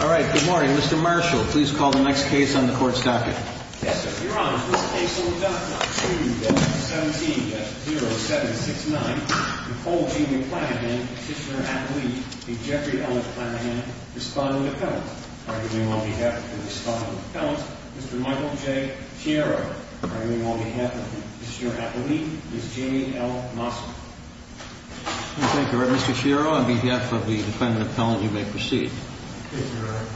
All right. Good morning, Mr. Marshall. Please call the next case on the court's docket. Yes, sir. Your Honor, this case on the docket, 2-117-0769, Nicole Jamie McClanahan, petitioner-appellee, a Jeffrey Ellen McClanahan, respondent-appellant. Arguing on behalf of the respondent-appellant, Mr. Michael J. Sciarro. Arguing on behalf of the petitioner-appellee, Ms. Jamie L. Mossman. Thank you, Reverend Mr. Sciarro. On behalf of the defendant-appellant, you may proceed. Thank you, Your Honor.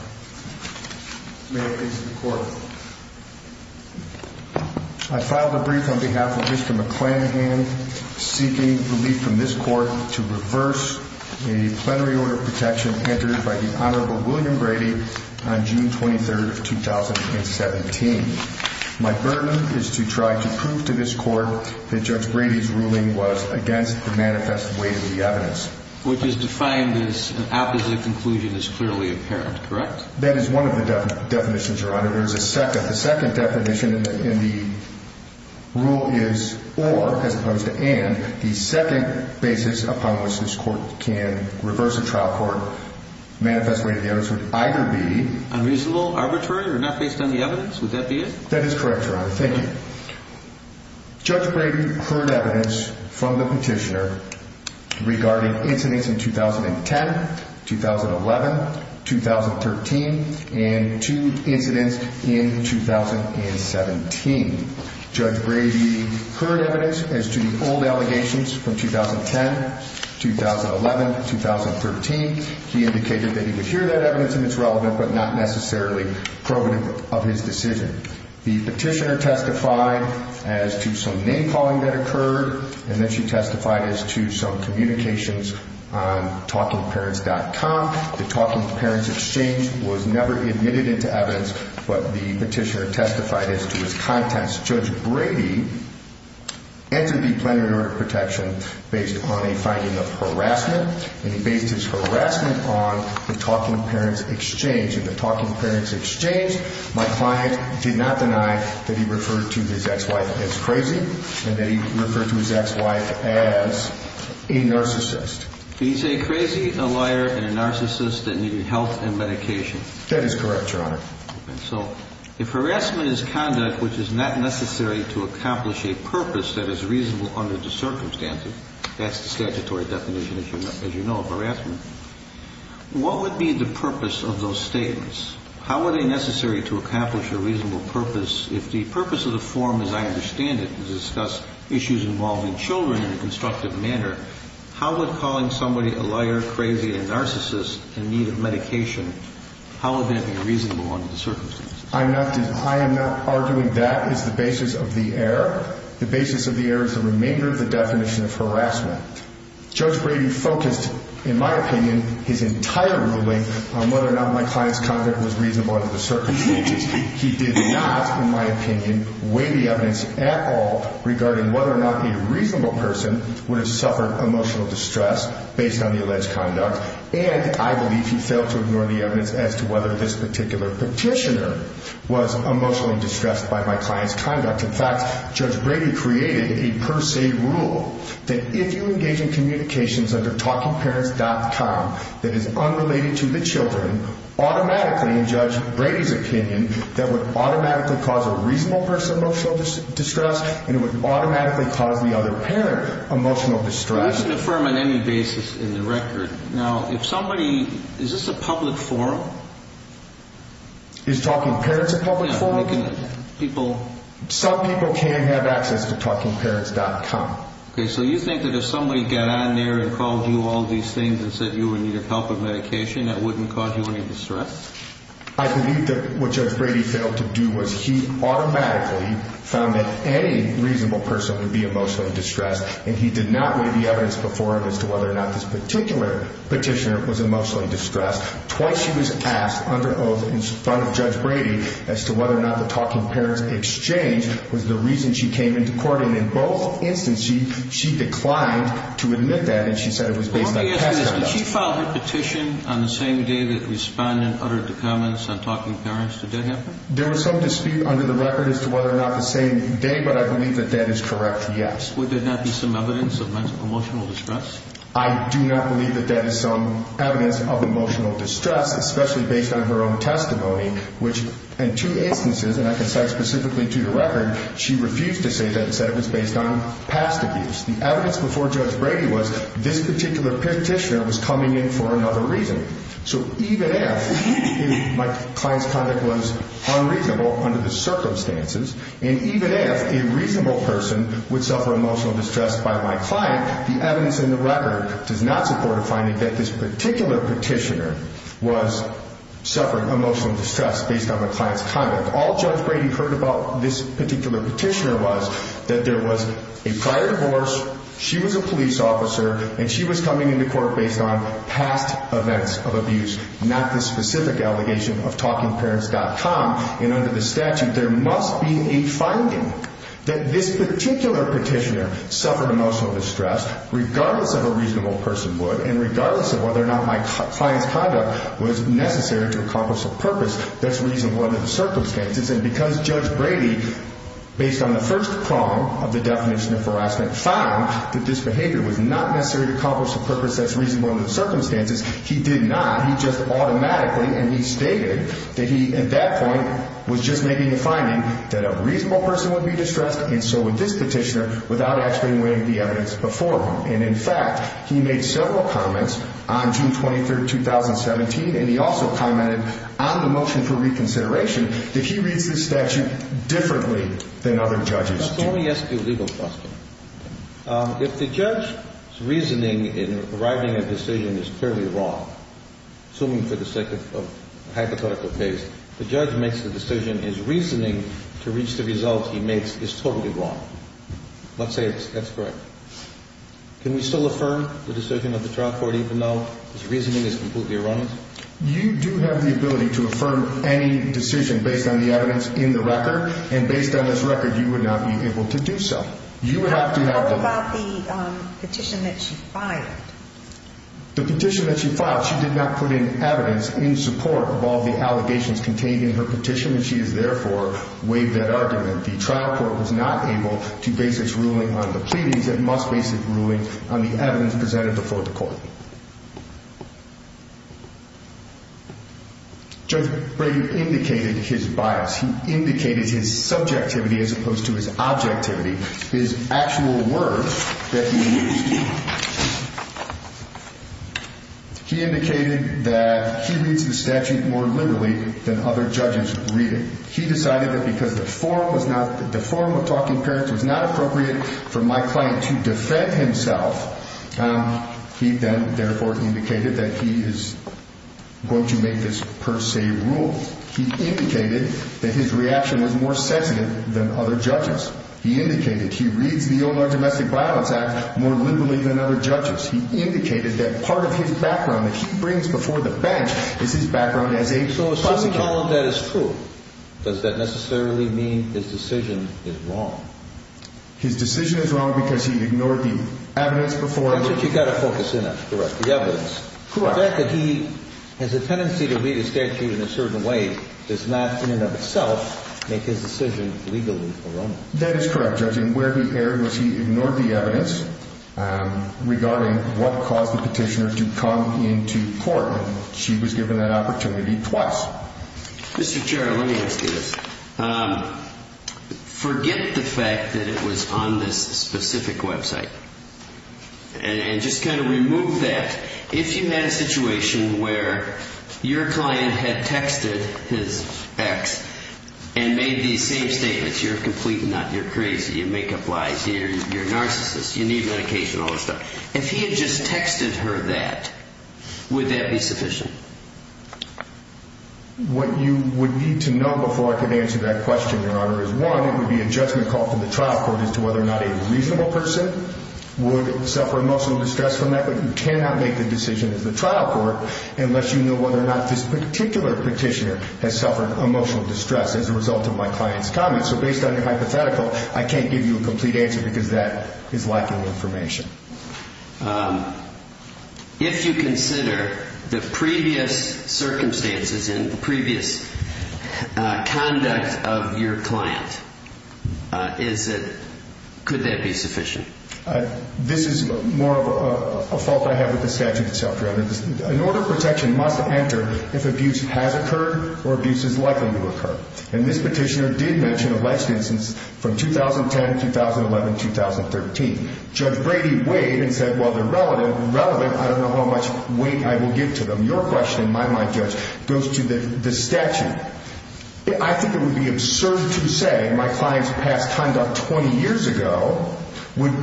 May I please see the court? I file the brief on behalf of Mr. McClanahan, seeking relief from this court to reverse a plenary order of protection entered by the Honorable William Brady on June 23, 2017. My burden is to try to prove to this court that Judge Brady's ruling was against the manifest weight of the evidence. Which is defined as an opposite conclusion is clearly apparent, correct? That is one of the definitions, Your Honor. There is a second. The second definition in the rule is or, as opposed to and. The second basis upon which this court can reverse a trial court, manifest weight of the evidence. Would that be it? That is correct, Your Honor. Thank you. Judge Brady heard evidence from the petitioner regarding incidents in 2010, 2011, 2013, and two incidents in 2017. Judge Brady heard evidence as to the old allegations from 2010, 2011, 2013. He indicated that he would hear that evidence and it's relevant, but not necessarily probative of his decision. The petitioner testified as to some name calling that occurred, and then she testified as to some communications on TalkingParents.com. The Talking Parents Exchange was never admitted into evidence, but the petitioner testified as to his contents. Judge Brady entered the plenary order of protection based on a finding of harassment, and he based his harassment on the Talking Parents Exchange. In the Talking Parents Exchange, my client did not deny that he referred to his ex-wife as crazy, and that he referred to his ex-wife as a narcissist. He's a crazy, a liar, and a narcissist that needed health and medication. That is correct, Your Honor. So if harassment is conduct which is not necessary to accomplish a purpose that is reasonable under the circumstances, that's the statutory definition, as you know, of harassment, what would be the purpose of those statements? How are they necessary to accomplish a reasonable purpose? If the purpose of the forum, as I understand it, is to discuss issues involving children in a constructive manner, how would calling somebody a liar, crazy, a narcissist in need of medication, how would that be reasonable under the circumstances? I am not arguing that is the basis of the error. The basis of the error is the remainder of the definition of harassment. Judge Brady focused, in my opinion, his entire ruling on whether or not my client's conduct was reasonable under the circumstances. He did not, in my opinion, weigh the evidence at all regarding whether or not a reasonable person would have suffered emotional distress based on the alleged conduct, and I believe he failed to ignore the evidence as to whether this particular petitioner was emotionally distressed by my client's conduct. In fact, Judge Brady created a per se rule that if you engage in communications under TalkingParents.com that is unrelated to the children, automatically, in Judge Brady's opinion, that would automatically cause a reasonable person emotional distress and it would automatically cause the other parent emotional distress. We can affirm on any basis in the record. Now, if somebody, is this a public forum? Is TalkingParents a public forum? Yeah, we can, people... Some people can have access to TalkingParents.com. Okay, so you think that if somebody got on there and called you all these things and said you were in need of help with medication, that wouldn't cause you any distress? I believe that what Judge Brady failed to do was he automatically found that any evidence before him as to whether or not this particular petitioner was emotionally distressed. Twice she was asked under oath in front of Judge Brady as to whether or not the Talking Parents exchange was the reason she came into court, and in both instances she declined to admit that and she said it was based on past conduct. Let me ask you this, did she file her petition on the same day that the respondent uttered the comments on Talking Parents? Did that happen? There was some dispute under the record as to whether or not the same day, but I believe that that is correct, yes. Would there not be some evidence of emotional distress? I do not believe that there is some evidence of emotional distress, especially based on her own testimony, which in two instances, and I can cite specifically to the record, she refused to say that and said it was based on past abuse. The evidence before Judge Brady was this particular petitioner was coming in for another reason. So even if my client's conduct was unreasonable under the circumstances, and even if a reasonable person would suffer emotional distress by my client, the evidence in the record does not support a finding that this particular petitioner was suffering emotional distress based on my client's conduct. All Judge Brady heard about this particular petitioner was that there was a prior divorce, she was a police officer, and she was coming into court based on past events of abuse, not the specific allegation of TalkingParents.com. And under the statute, there must be a finding that this particular petitioner suffered emotional distress regardless of a reasonable person would and regardless of whether or not my client's conduct was necessary to accomplish a purpose that's reasonable under the circumstances. And because Judge Brady, based on the first prong of the definition of harassment, found that this behavior was not necessary to accomplish a purpose that's reasonable under the circumstances, he did not. He just automatically and he stated that he, at that point, was just making a finding that a reasonable person would be distressed and so would this petitioner without actually weighing the evidence before him. And, in fact, he made several comments on June 23, 2017, and he also commented on the motion for reconsideration that he reads this statute differently than other judges do. Let me ask you a legal question. If the judge's reasoning in arriving at a decision is clearly wrong, assuming for the sake of hypothetical case, the judge makes the decision his reasoning to reach the results he makes is totally wrong, let's say that's correct, can we still affirm the decision of the trial court even though his reasoning is completely erroneous? You do have the ability to affirm any decision based on the evidence in the record, and based on this record, you would not be able to do so. How about the petition that she filed? The petition that she filed, she did not put in evidence in support of all the allegations contained in her petition, and she has, therefore, waived that argument. The trial court was not able to base its ruling on the pleadings. It must base its ruling on the evidence presented before the court. Judge Brady indicated his bias. He indicated his subjectivity as opposed to his objectivity. His actual words that he used, he indicated that he reads the statute more liberally than other judges read it. He decided that because the form of talking parents was not appropriate for my client to defend himself, he then, therefore, indicated that he is going to make this per se rule. He indicated that his reaction was more sensitive than other judges. He indicated he reads the Illinois Domestic Violence Act more liberally than other judges. He indicated that part of his background that he brings before the bench is his background as a prosecutor. So assuming all of that is true, does that necessarily mean his decision is wrong? His decision is wrong because he ignored the evidence before him. That's what you've got to focus in on, correct, the evidence. The fact that he has a tendency to read a statute in a certain way does not, in and of itself, make his decision legally wrong. That is correct, Judge. And where he erred was he ignored the evidence regarding what caused the petitioner to come into court. She was given that opportunity twice. Mr. Chair, let me ask you this. Forget the fact that it was on this specific website and just kind of remove that. If you had a situation where your client had texted his ex and made these same statements, you're a complete nut, you're crazy, you make up lies, you're a narcissist, you need medication, all this stuff. If he had just texted her that, would that be sufficient? What you would need to know before I can answer that question, Your Honor, is, one, it would be a judgment called to the trial court as to whether or not a reasonable person would suffer emotional distress from that. But you cannot make the decision as the trial court unless you know whether or not this particular petitioner has suffered emotional distress as a result of my client's comments. So based on your hypothetical, I can't give you a complete answer because that is lacking information. If you consider the previous circumstances and the previous conduct of your client, could that be sufficient? This is more of a fault I have with the statute itself, Your Honor. An order of protection must enter if abuse has occurred or abuse is likely to occur. And this petitioner did mention alleged instances from 2010, 2011, 2013. Judge Brady weighed and said, well, they're relevant, I don't know how much weight I will give to them. Your question, in my mind, Judge, goes to the statute. I think it would be absurd to say my client's past conduct 20 years ago would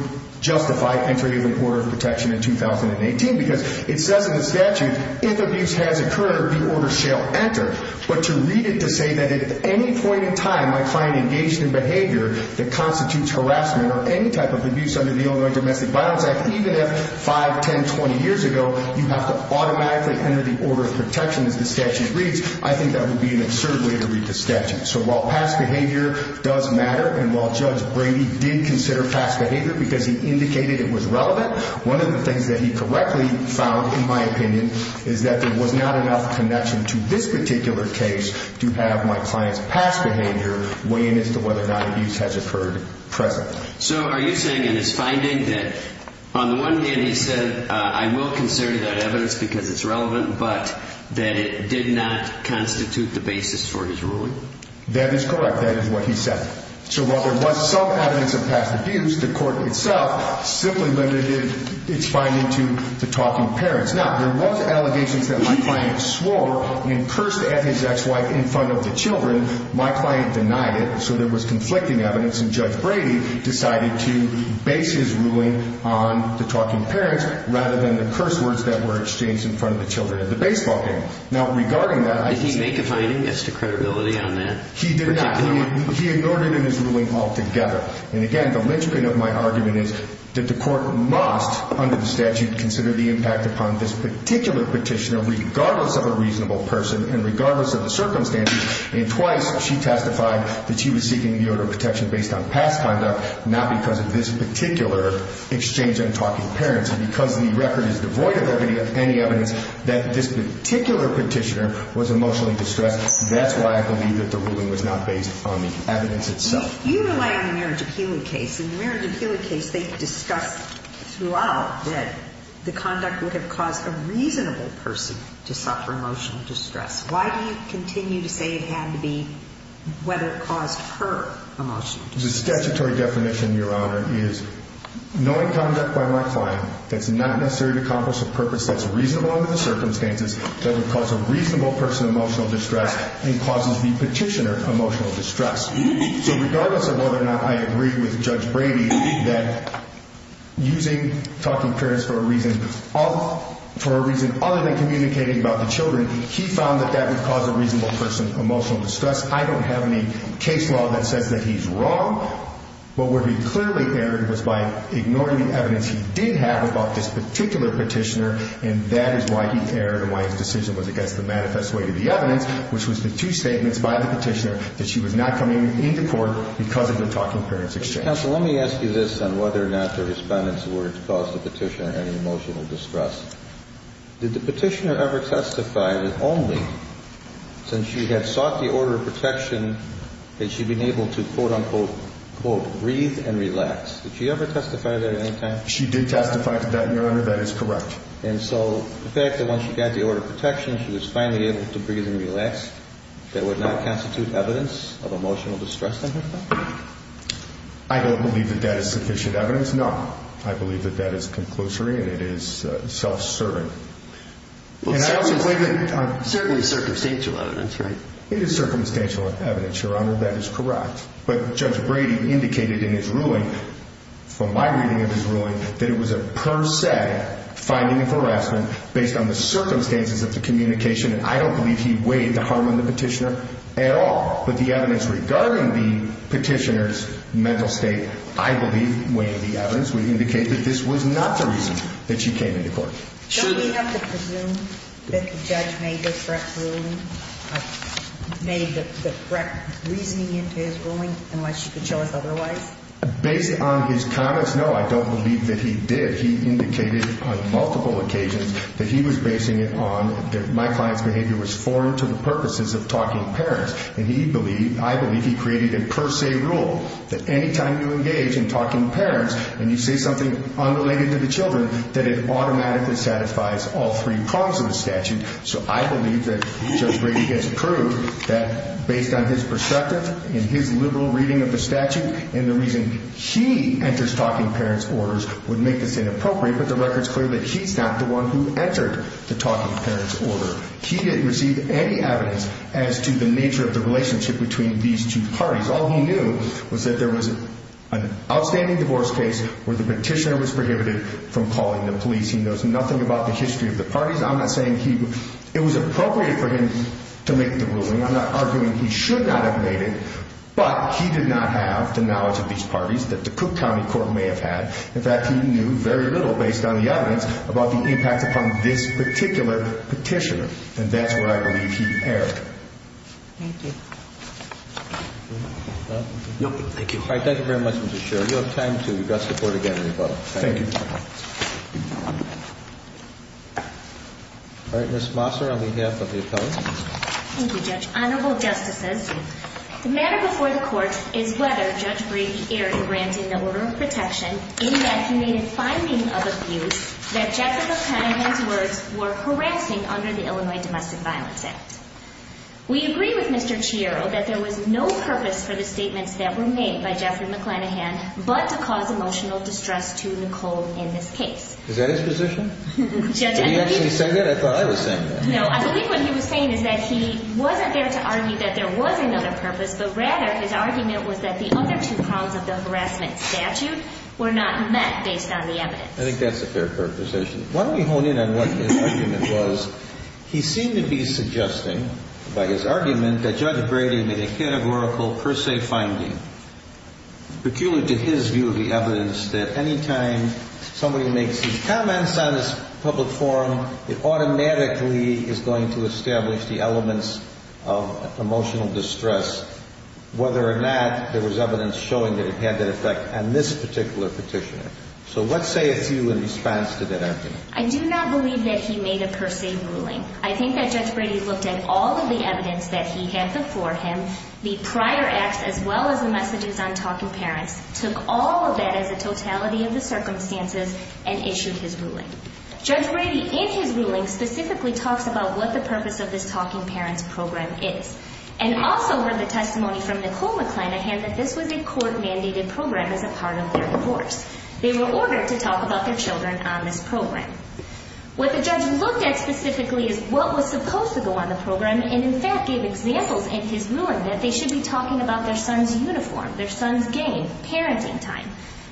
justify entry of an order of protection in 2018 because it says in the statute, if abuse has occurred, the order shall enter. But to read it to say that at any point in time my client engaged in behavior that constitutes harassment or any type of abuse under the Illinois Domestic Violence Act, even if 5, 10, 20 years ago, you have to automatically enter the order of protection as the statute reads, I think that would be an absurd way to read the statute. So while past behavior does matter and while Judge Brady did consider past behavior because he indicated it was relevant, one of the things that he correctly found, in my opinion, is that there was not enough connection to this particular case to have my client's past behavior weigh in as to whether or not abuse has occurred present. So are you saying in his finding that on the one hand he said, I will consider that evidence because it's relevant, but that it did not constitute the basis for his ruling? That is correct. That is what he said. So while there was some evidence of past abuse, the court itself simply limited its finding to the talking parents. Now, there was allegations that my client swore and cursed at his ex-wife in front of the children. My client denied it. So there was conflicting evidence, and Judge Brady decided to base his ruling on the talking parents rather than the curse words that were exchanged in front of the children at the baseball game. Now, regarding that, I think— Did he make a finding as to credibility on that? He did not. He ignored it in his ruling altogether. And, again, the linchpin of my argument is that the court must, under the statute, consider the impact upon this particular petitioner regardless of a reasonable person and regardless of the circumstances. And twice she testified that she was seeking the order of protection based on past conduct, not because of this particular exchange on talking parents. And because the record is devoid of any evidence that this particular petitioner was emotionally distressed, that's why I believe that the ruling was not based on the evidence itself. You rely on the Mary J. Keeley case. In the Mary J. Keeley case, they discussed throughout that the conduct would have caused a reasonable person to suffer emotional distress. Why do you continue to say it had to be whether it caused her emotional distress? The statutory definition, Your Honor, is knowing conduct by my client that's not necessary to accomplish a purpose that's reasonable under the circumstances, doesn't cause a reasonable person emotional distress, and causes the petitioner emotional distress. So regardless of whether or not I agree with Judge Brady that using talking parents for a reason other than communicating about the children, he found that that would cause a reasonable person emotional distress. I don't have any case law that says that he's wrong. But where he clearly erred was by ignoring the evidence he did have about this particular petitioner, and that is why he erred and why his decision was against the manifest way to the evidence, which was the two statements by the petitioner that she was not coming into court because of the talking parents exchange. Counsel, let me ask you this on whether or not the respondent's words caused the petitioner any emotional distress. Did the petitioner ever testify that only since she had sought the order of protection had she been able to, quote, unquote, breathe and relax? Did she ever testify to that at any time? She did testify to that, Your Honor. That is correct. And so the fact that once she got the order of protection, she was finally able to breathe and relax, that would not constitute evidence of emotional distress on her part? I don't believe that that is sufficient evidence, no. I believe that that is conclusory and it is self-serving. And I also think that... Certainly circumstantial evidence, right? It is circumstantial evidence, Your Honor. That is correct. But Judge Brady indicated in his ruling, from my reading of his ruling, that it was a per se finding of harassment based on the circumstances of the communication, and I don't believe he weighed the harm on the petitioner at all. But the evidence regarding the petitioner's mental state, I believe, weighing the evidence would indicate that this was not the reason that she came into court. Should we have to presume that the judge made the correct ruling, made the correct reasoning into his ruling, unless you could show us otherwise? Based on his comments, no, I don't believe that he did. He indicated on multiple occasions that he was basing it on my client's behavior was foreign to the purposes of talking parents. And he believed, I believe, he created a per se rule that any time you engage in talking parents and you say something unrelated to the children, that it automatically satisfies all three prongs of the statute. So I believe that Judge Brady has proved that based on his perspective and his liberal reading of the statute and the reason he enters talking parents' orders would make this inappropriate, but the record's clear that he's not the one who entered the talking parents' order. He didn't receive any evidence as to the nature of the relationship between these two parties. All he knew was that there was an outstanding divorce case where the petitioner was prohibited from calling the police. He knows nothing about the history of the parties. I'm not saying he – it was appropriate for him to make the ruling. I'm not arguing he should not have made it. But he did not have the knowledge of these parties that the Cook County Court may have had. In fact, he knew very little based on the evidence about the impact upon this particular petitioner. And that's what I believe he erred. Thank you. Thank you. All right. Thank you very much, Mr. Sherry. You'll have time to address the Court again in a moment. Thank you. All right. Ms. Mosser, on behalf of the appellate. Thank you, Judge. Honorable Justices, the matter before the Court is whether Judge Breed aired granting the order of protection in that he made a finding of abuse that Jeffrey McClanahan's words were harassing under the Illinois Domestic Violence Act. We agree with Mr. Chiaro that there was no purpose for the statements that were made by Jeffrey McClanahan but to cause emotional distress to Nicole in this case. Is that his position? Did he actually say that? I thought I was saying that. No, I believe what he was saying is that he wasn't there to argue that there was another purpose, but rather his argument was that the other two crimes of the harassment statute were not met based on the evidence. I think that's a fair proposition. Why don't we hone in on what his argument was. He seemed to be suggesting by his argument that Judge Brady made a categorical per se finding. It's peculiar to his view of the evidence that any time somebody makes these comments on this public forum, it automatically is going to establish the elements of emotional distress, whether or not there was evidence showing that it had that effect on this particular petitioner. So let's say a few in response to that argument. I do not believe that he made a per se ruling. I think that Judge Brady looked at all of the evidence that he had before him, the prior acts as well as the messages on Talking Parents, took all of that as a totality of the circumstances and issued his ruling. Judge Brady in his ruling specifically talks about what the purpose of this Talking Parents program is and also heard the testimony from Nicole McClanahan that this was a court mandated program as a part of their divorce. They were ordered to talk about their children on this program. What the judge looked at specifically is what was supposed to go on the program and, in fact, gave examples in his ruling that they should be talking about their son's uniform, their son's game, parenting time.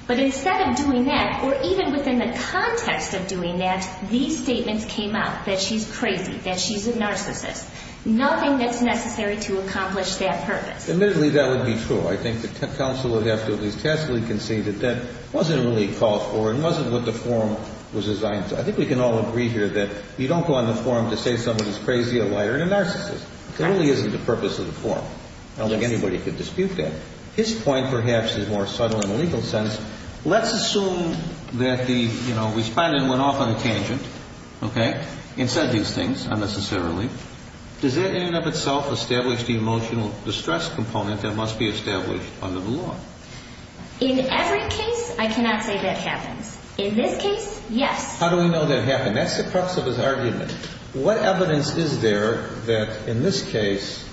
But instead of doing that, or even within the context of doing that, these statements came out that she's crazy, that she's a narcissist, nothing that's necessary to accomplish that purpose. Admittedly, that would be true. I think the counsel would have to at least tacitly concede that that wasn't really called for and wasn't what the forum was designed to. I think we can all agree here that you don't go on the forum to say someone is crazy, a liar, and a narcissist. It really isn't the purpose of the forum. I don't think anybody could dispute that. His point, perhaps, is more subtle in a legal sense. Let's assume that the respondent went off on a tangent and said these things unnecessarily. Does that in and of itself establish the emotional distress component that must be established under the law? In every case, I cannot say that happens. In this case, yes. How do we know that happened? That's the crux of his argument. What evidence is there that in this case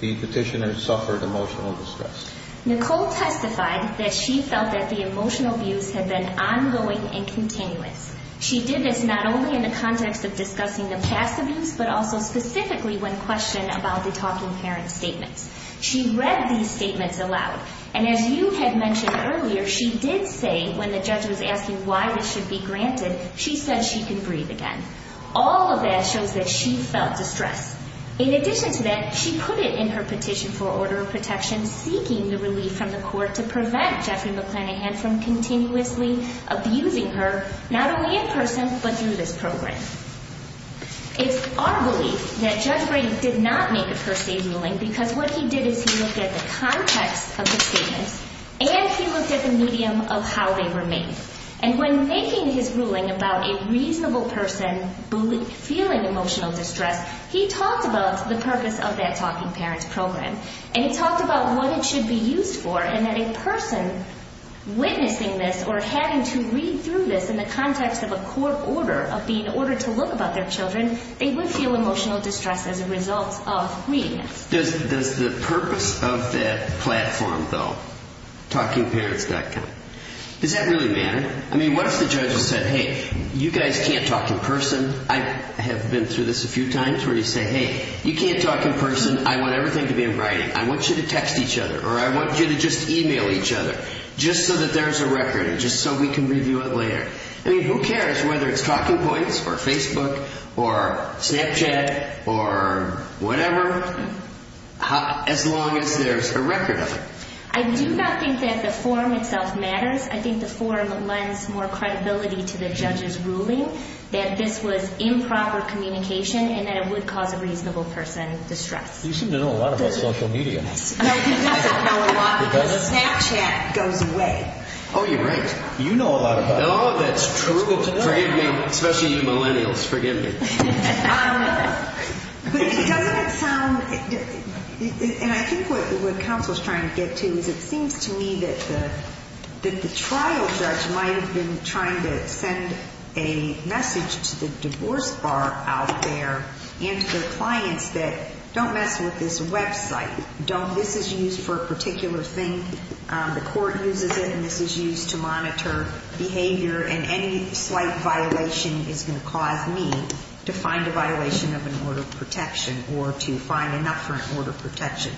the petitioner suffered emotional distress? Nicole testified that she felt that the emotional abuse had been ongoing and continuous. She did this not only in the context of discussing the past abuse, but also specifically when questioned about the talking parent statements. She read these statements aloud, and as you had mentioned earlier, she did say when the judge was asking why this should be granted, she said she could breathe again. All of that shows that she felt distress. In addition to that, she put it in her petition for order of protection, seeking the relief from the court to prevent Jeffrey McClanahan from continuously abusing her, not only in person, but through this program. It's our belief that Judge Brady did not make a per se ruling because what he did is he looked at the context of the statements, and he looked at the medium of how they were made. And when making his ruling about a reasonable person feeling emotional distress, he talked about the purpose of that talking parent program, and he talked about what it should be used for, and that a person witnessing this or having to read through this in the context of a court order, of being ordered to look about their children, they would feel emotional distress as a result of reading it. Does the purpose of that platform, though, TalkingParents.com, does that really matter? I mean, what if the judge said, hey, you guys can't talk in person. I have been through this a few times where you say, hey, you can't talk in person. I want everything to be in writing. I want you to text each other or I want you to just e-mail each other just so that there's a record and just so we can review it later. I mean, who cares whether it's Talking Points or Facebook or Snapchat or whatever, as long as there's a record of it. I do not think that the form itself matters. I think the form lends more credibility to the judge's ruling that this was improper communication and that it would cause a reasonable person distress. You seem to know a lot about social media. No, he doesn't know a lot because Snapchat goes away. Oh, you're right. You know a lot about it. And all of that's true. Forgive me, especially you millennials. Forgive me. But doesn't it sound, and I think what counsel is trying to get to is it seems to me that the trial judge might have been trying to send a message to the divorce bar out there and to their clients that don't mess with this website. This is used for a particular thing. The court uses it, and this is used to monitor behavior, and any slight violation is going to cause me to find a violation of an order of protection or to find enough for an order of protection.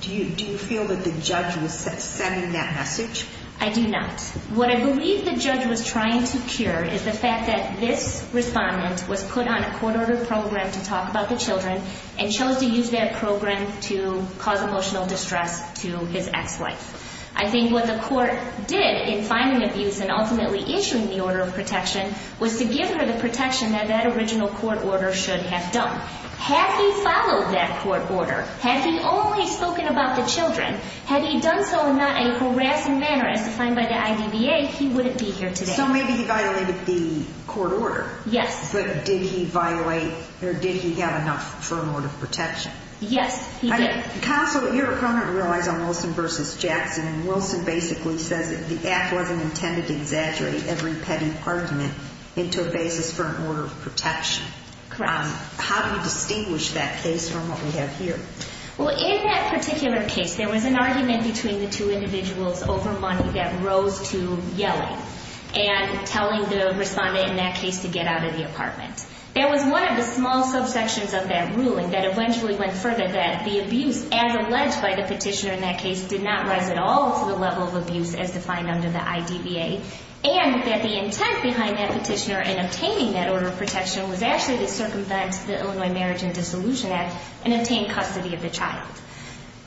Do you feel that the judge was sending that message? I do not. What I believe the judge was trying to cure is the fact that this respondent was put on a court-ordered program to talk about the children and chose to use that program to cause emotional distress to his ex-wife. I think what the court did in finding abuse and ultimately issuing the order of protection was to give her the protection that that original court order should have done. Had he followed that court order, had he only spoken about the children, had he done so not in a harassing manner as defined by the IDBA, he wouldn't be here today. So maybe he violated the court order. Yes. But did he violate or did he have enough for an order of protection? Yes, he did. Counsel, your opponent relies on Wilson v. Jackson, and Wilson basically says that the act wasn't intended to exaggerate every petty argument into a basis for an order of protection. Correct. How do you distinguish that case from what we have here? Well, in that particular case, there was an argument between the two individuals over money that rose to yelling and telling the respondent in that case to get out of the apartment. There was one of the small subsections of that ruling that eventually went further, that the abuse, as alleged by the petitioner in that case, did not rise at all to the level of abuse as defined under the IDBA, and that the intent behind that petitioner in obtaining that order of protection was actually to circumvent the Illinois Marriage and Dissolution Act and obtain custody of the child.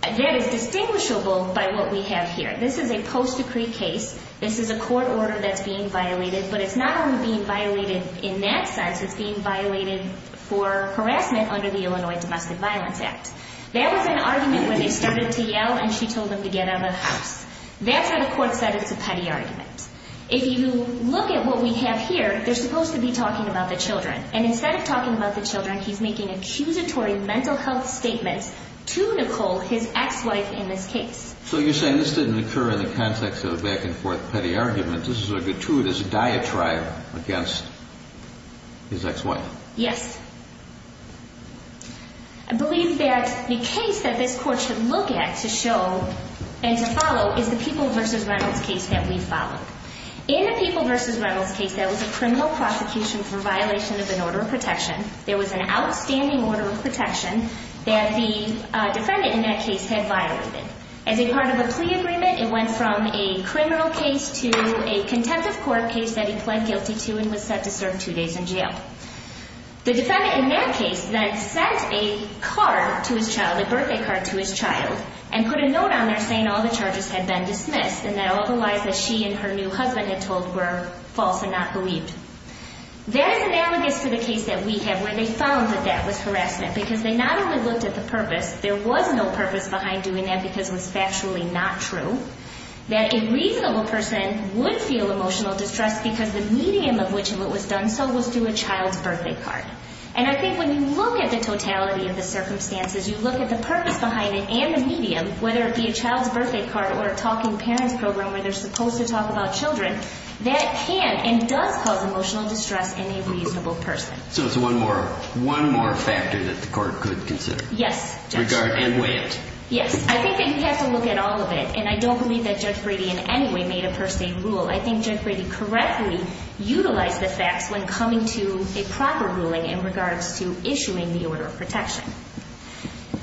That is distinguishable by what we have here. This is a post-decree case. This is a court order that's being violated, but it's not only being violated in that sense, it's being violated for harassment under the Illinois Domestic Violence Act. That was an argument where they started to yell and she told them to get out of the house. That's where the court said it's a petty argument. If you look at what we have here, they're supposed to be talking about the children, and instead of talking about the children, he's making accusatory mental health statements to Nicole, his ex-wife, in this case. So you're saying this didn't occur in the context of a back-and-forth petty argument. This is a gratuitous diatribe against his ex-wife. Yes. I believe that the case that this court should look at to show and to follow is the People v. Reynolds case that we followed. In the People v. Reynolds case, there was a criminal prosecution for violation of an order of protection. There was an outstanding order of protection that the defendant in that case had violated. As a part of the plea agreement, it went from a criminal case to a contempt of court case that he pled guilty to and was set to serve two days in jail. The defendant in that case then sent a card to his child, a birthday card to his child, and put a note on there saying all the charges had been dismissed and that all the lies that she and her new husband had told were false and not believed. That is analogous to the case that we have where they found that that was harassment because they not only looked at the purpose, there was no purpose behind doing that because it was factually not true, that a reasonable person would feel emotional distress because the medium of which it was done so was through a child's birthday card. And I think when you look at the totality of the circumstances, you look at the purpose behind it and the medium, whether it be a child's birthday card or a talking parents program where they're supposed to talk about children, that can and does cause emotional distress in a reasonable person. So it's one more factor that the court could consider. Yes. And weigh it. Yes. I think that you have to look at all of it, and I don't believe that Judge Brady in any way made a per se rule. I think Judge Brady correctly utilized the facts when coming to a proper ruling in regards to issuing the order of protection,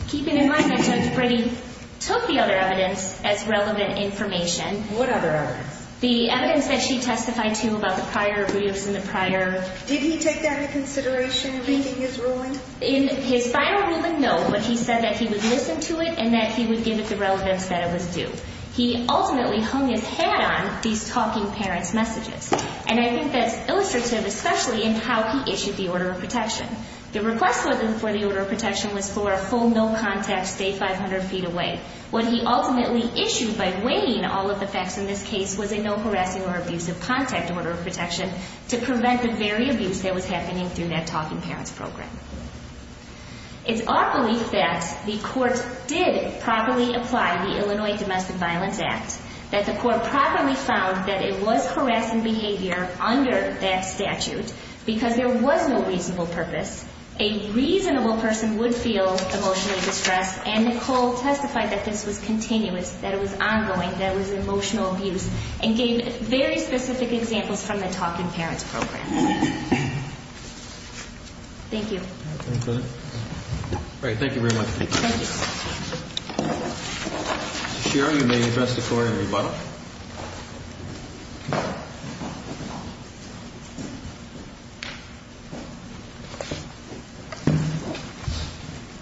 keeping in mind that Judge Brady took the other evidence as relevant information. What other evidence? The evidence that she testified to about the prior abuse and the prior... Did he take that into consideration in making his ruling? In his final ruling, no, but he said that he would listen to it and that he would give it the relevance that it was due. He ultimately hung his hat on these talking parents' messages, and I think that's illustrative, especially in how he issued the order of protection. The request for the order of protection was for a full no contact, stay 500 feet away. What he ultimately issued by weighing all of the facts in this case was a no harassing or abusive contact order of protection to prevent the very abuse that was happening through that talking parents program. It's our belief that the court did properly apply the Illinois Domestic Violence Act, that the court properly found that it was harassing behavior under that statute because there was no reasonable purpose. A reasonable person would feel emotionally distressed, and Nicole testified that this was continuous, that it was ongoing, that it was emotional abuse, and gave very specific examples from the talking parents program. Thank you. All right, thank you very much. Thank you. Mr. Scherer, you may address the court in rebuttal.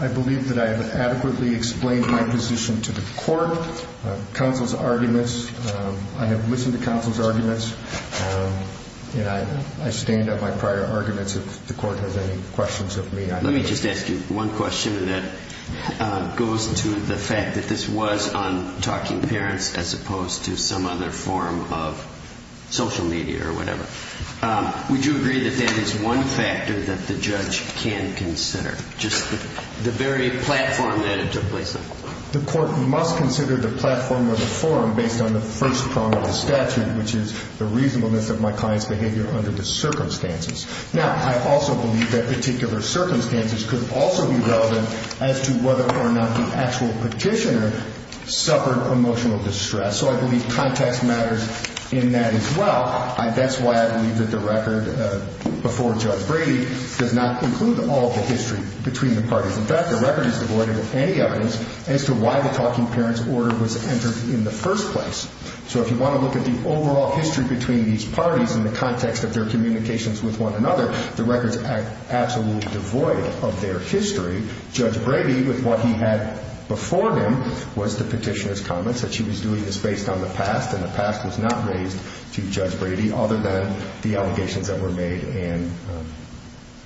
I believe that I have adequately explained my position to the court, and I stand up my prior arguments if the court has any questions of me. Let me just ask you one question that goes to the fact that this was on talking parents as opposed to some other form of social media or whatever. Would you agree that that is one factor that the judge can consider, just the very platform that it took place on? The court must consider the platform of the forum based on the first prong of the statute, which is the reasonableness of my client's behavior under the circumstances. Now, I also believe that particular circumstances could also be relevant as to whether or not the actual petitioner suffered emotional distress, so I believe context matters in that as well. That's why I believe that the record before Judge Brady does not include all of the history between the parties. In fact, the record is devoid of any evidence as to why the talking parents order was entered in the first place. So if you want to look at the overall history between these parties in the context of their communications with one another, the record is absolutely devoid of their history. Judge Brady, with what he had before him, was to petition his comments that she was doing this based on the past, and the past was not raised to Judge Brady other than the allegations that were made and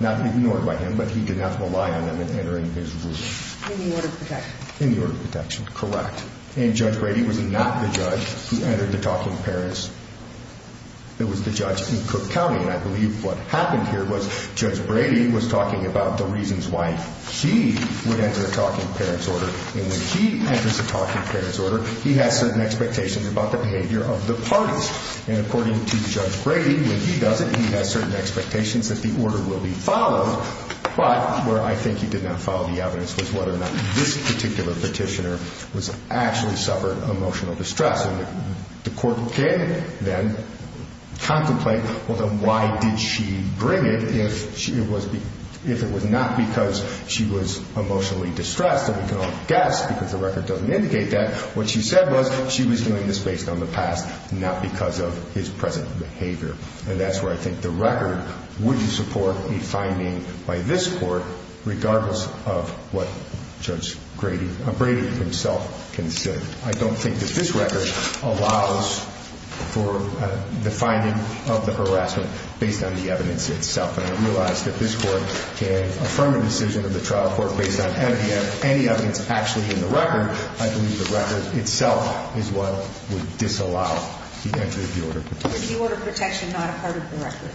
not ignored by him, but he did not rely on them in entering his ruling. In the order of protection. In the order of protection, correct. And Judge Brady was not the judge. He entered the talking parents. It was the judge in Cook County, and I believe what happened here was Judge Brady was talking about the reasons why he would enter a talking parents order, and when he enters a talking parents order, he has certain expectations about the behavior of the parties. And according to Judge Brady, when he does it, he has certain expectations that the order will be followed, but where I think he did not follow the evidence was whether or not this particular petitioner actually suffered emotional distress. The court can then contemplate, well, then why did she bring it if it was not because she was emotionally distressed, and we can all guess because the record doesn't indicate that. What she said was she was doing this based on the past, not because of his present behavior, and that's where I think the record would support a finding by this court, regardless of what Judge Brady himself considered. I don't think that this record allows for the finding of the harassment based on the evidence itself, and I realize that this court can affirm a decision of the trial court based on any evidence actually in the record. I believe the record itself is what would disallow the entry of the order of protection. The order of protection not a part of the record.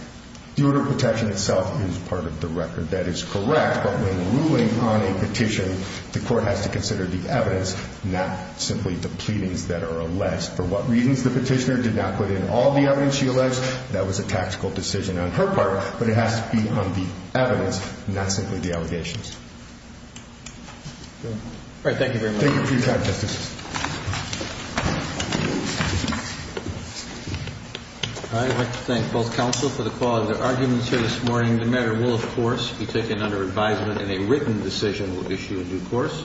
The order of protection itself is part of the record. That is correct, but when ruling on a petition, the court has to consider the evidence, not simply the pleadings that are alleged. For what reasons the petitioner did not put in all the evidence she alleged, that was a tactical decision on her part, but it has to be on the evidence, not simply the allegations. All right, thank you very much. Thank you for your time, Justice. I'd like to thank both counsel for the quality of their arguments here this morning. The matter will, of course, be taken under advisement, and a written decision will issue in due course.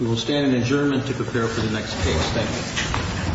We will stand in adjournment to prepare for the next case. Thank you.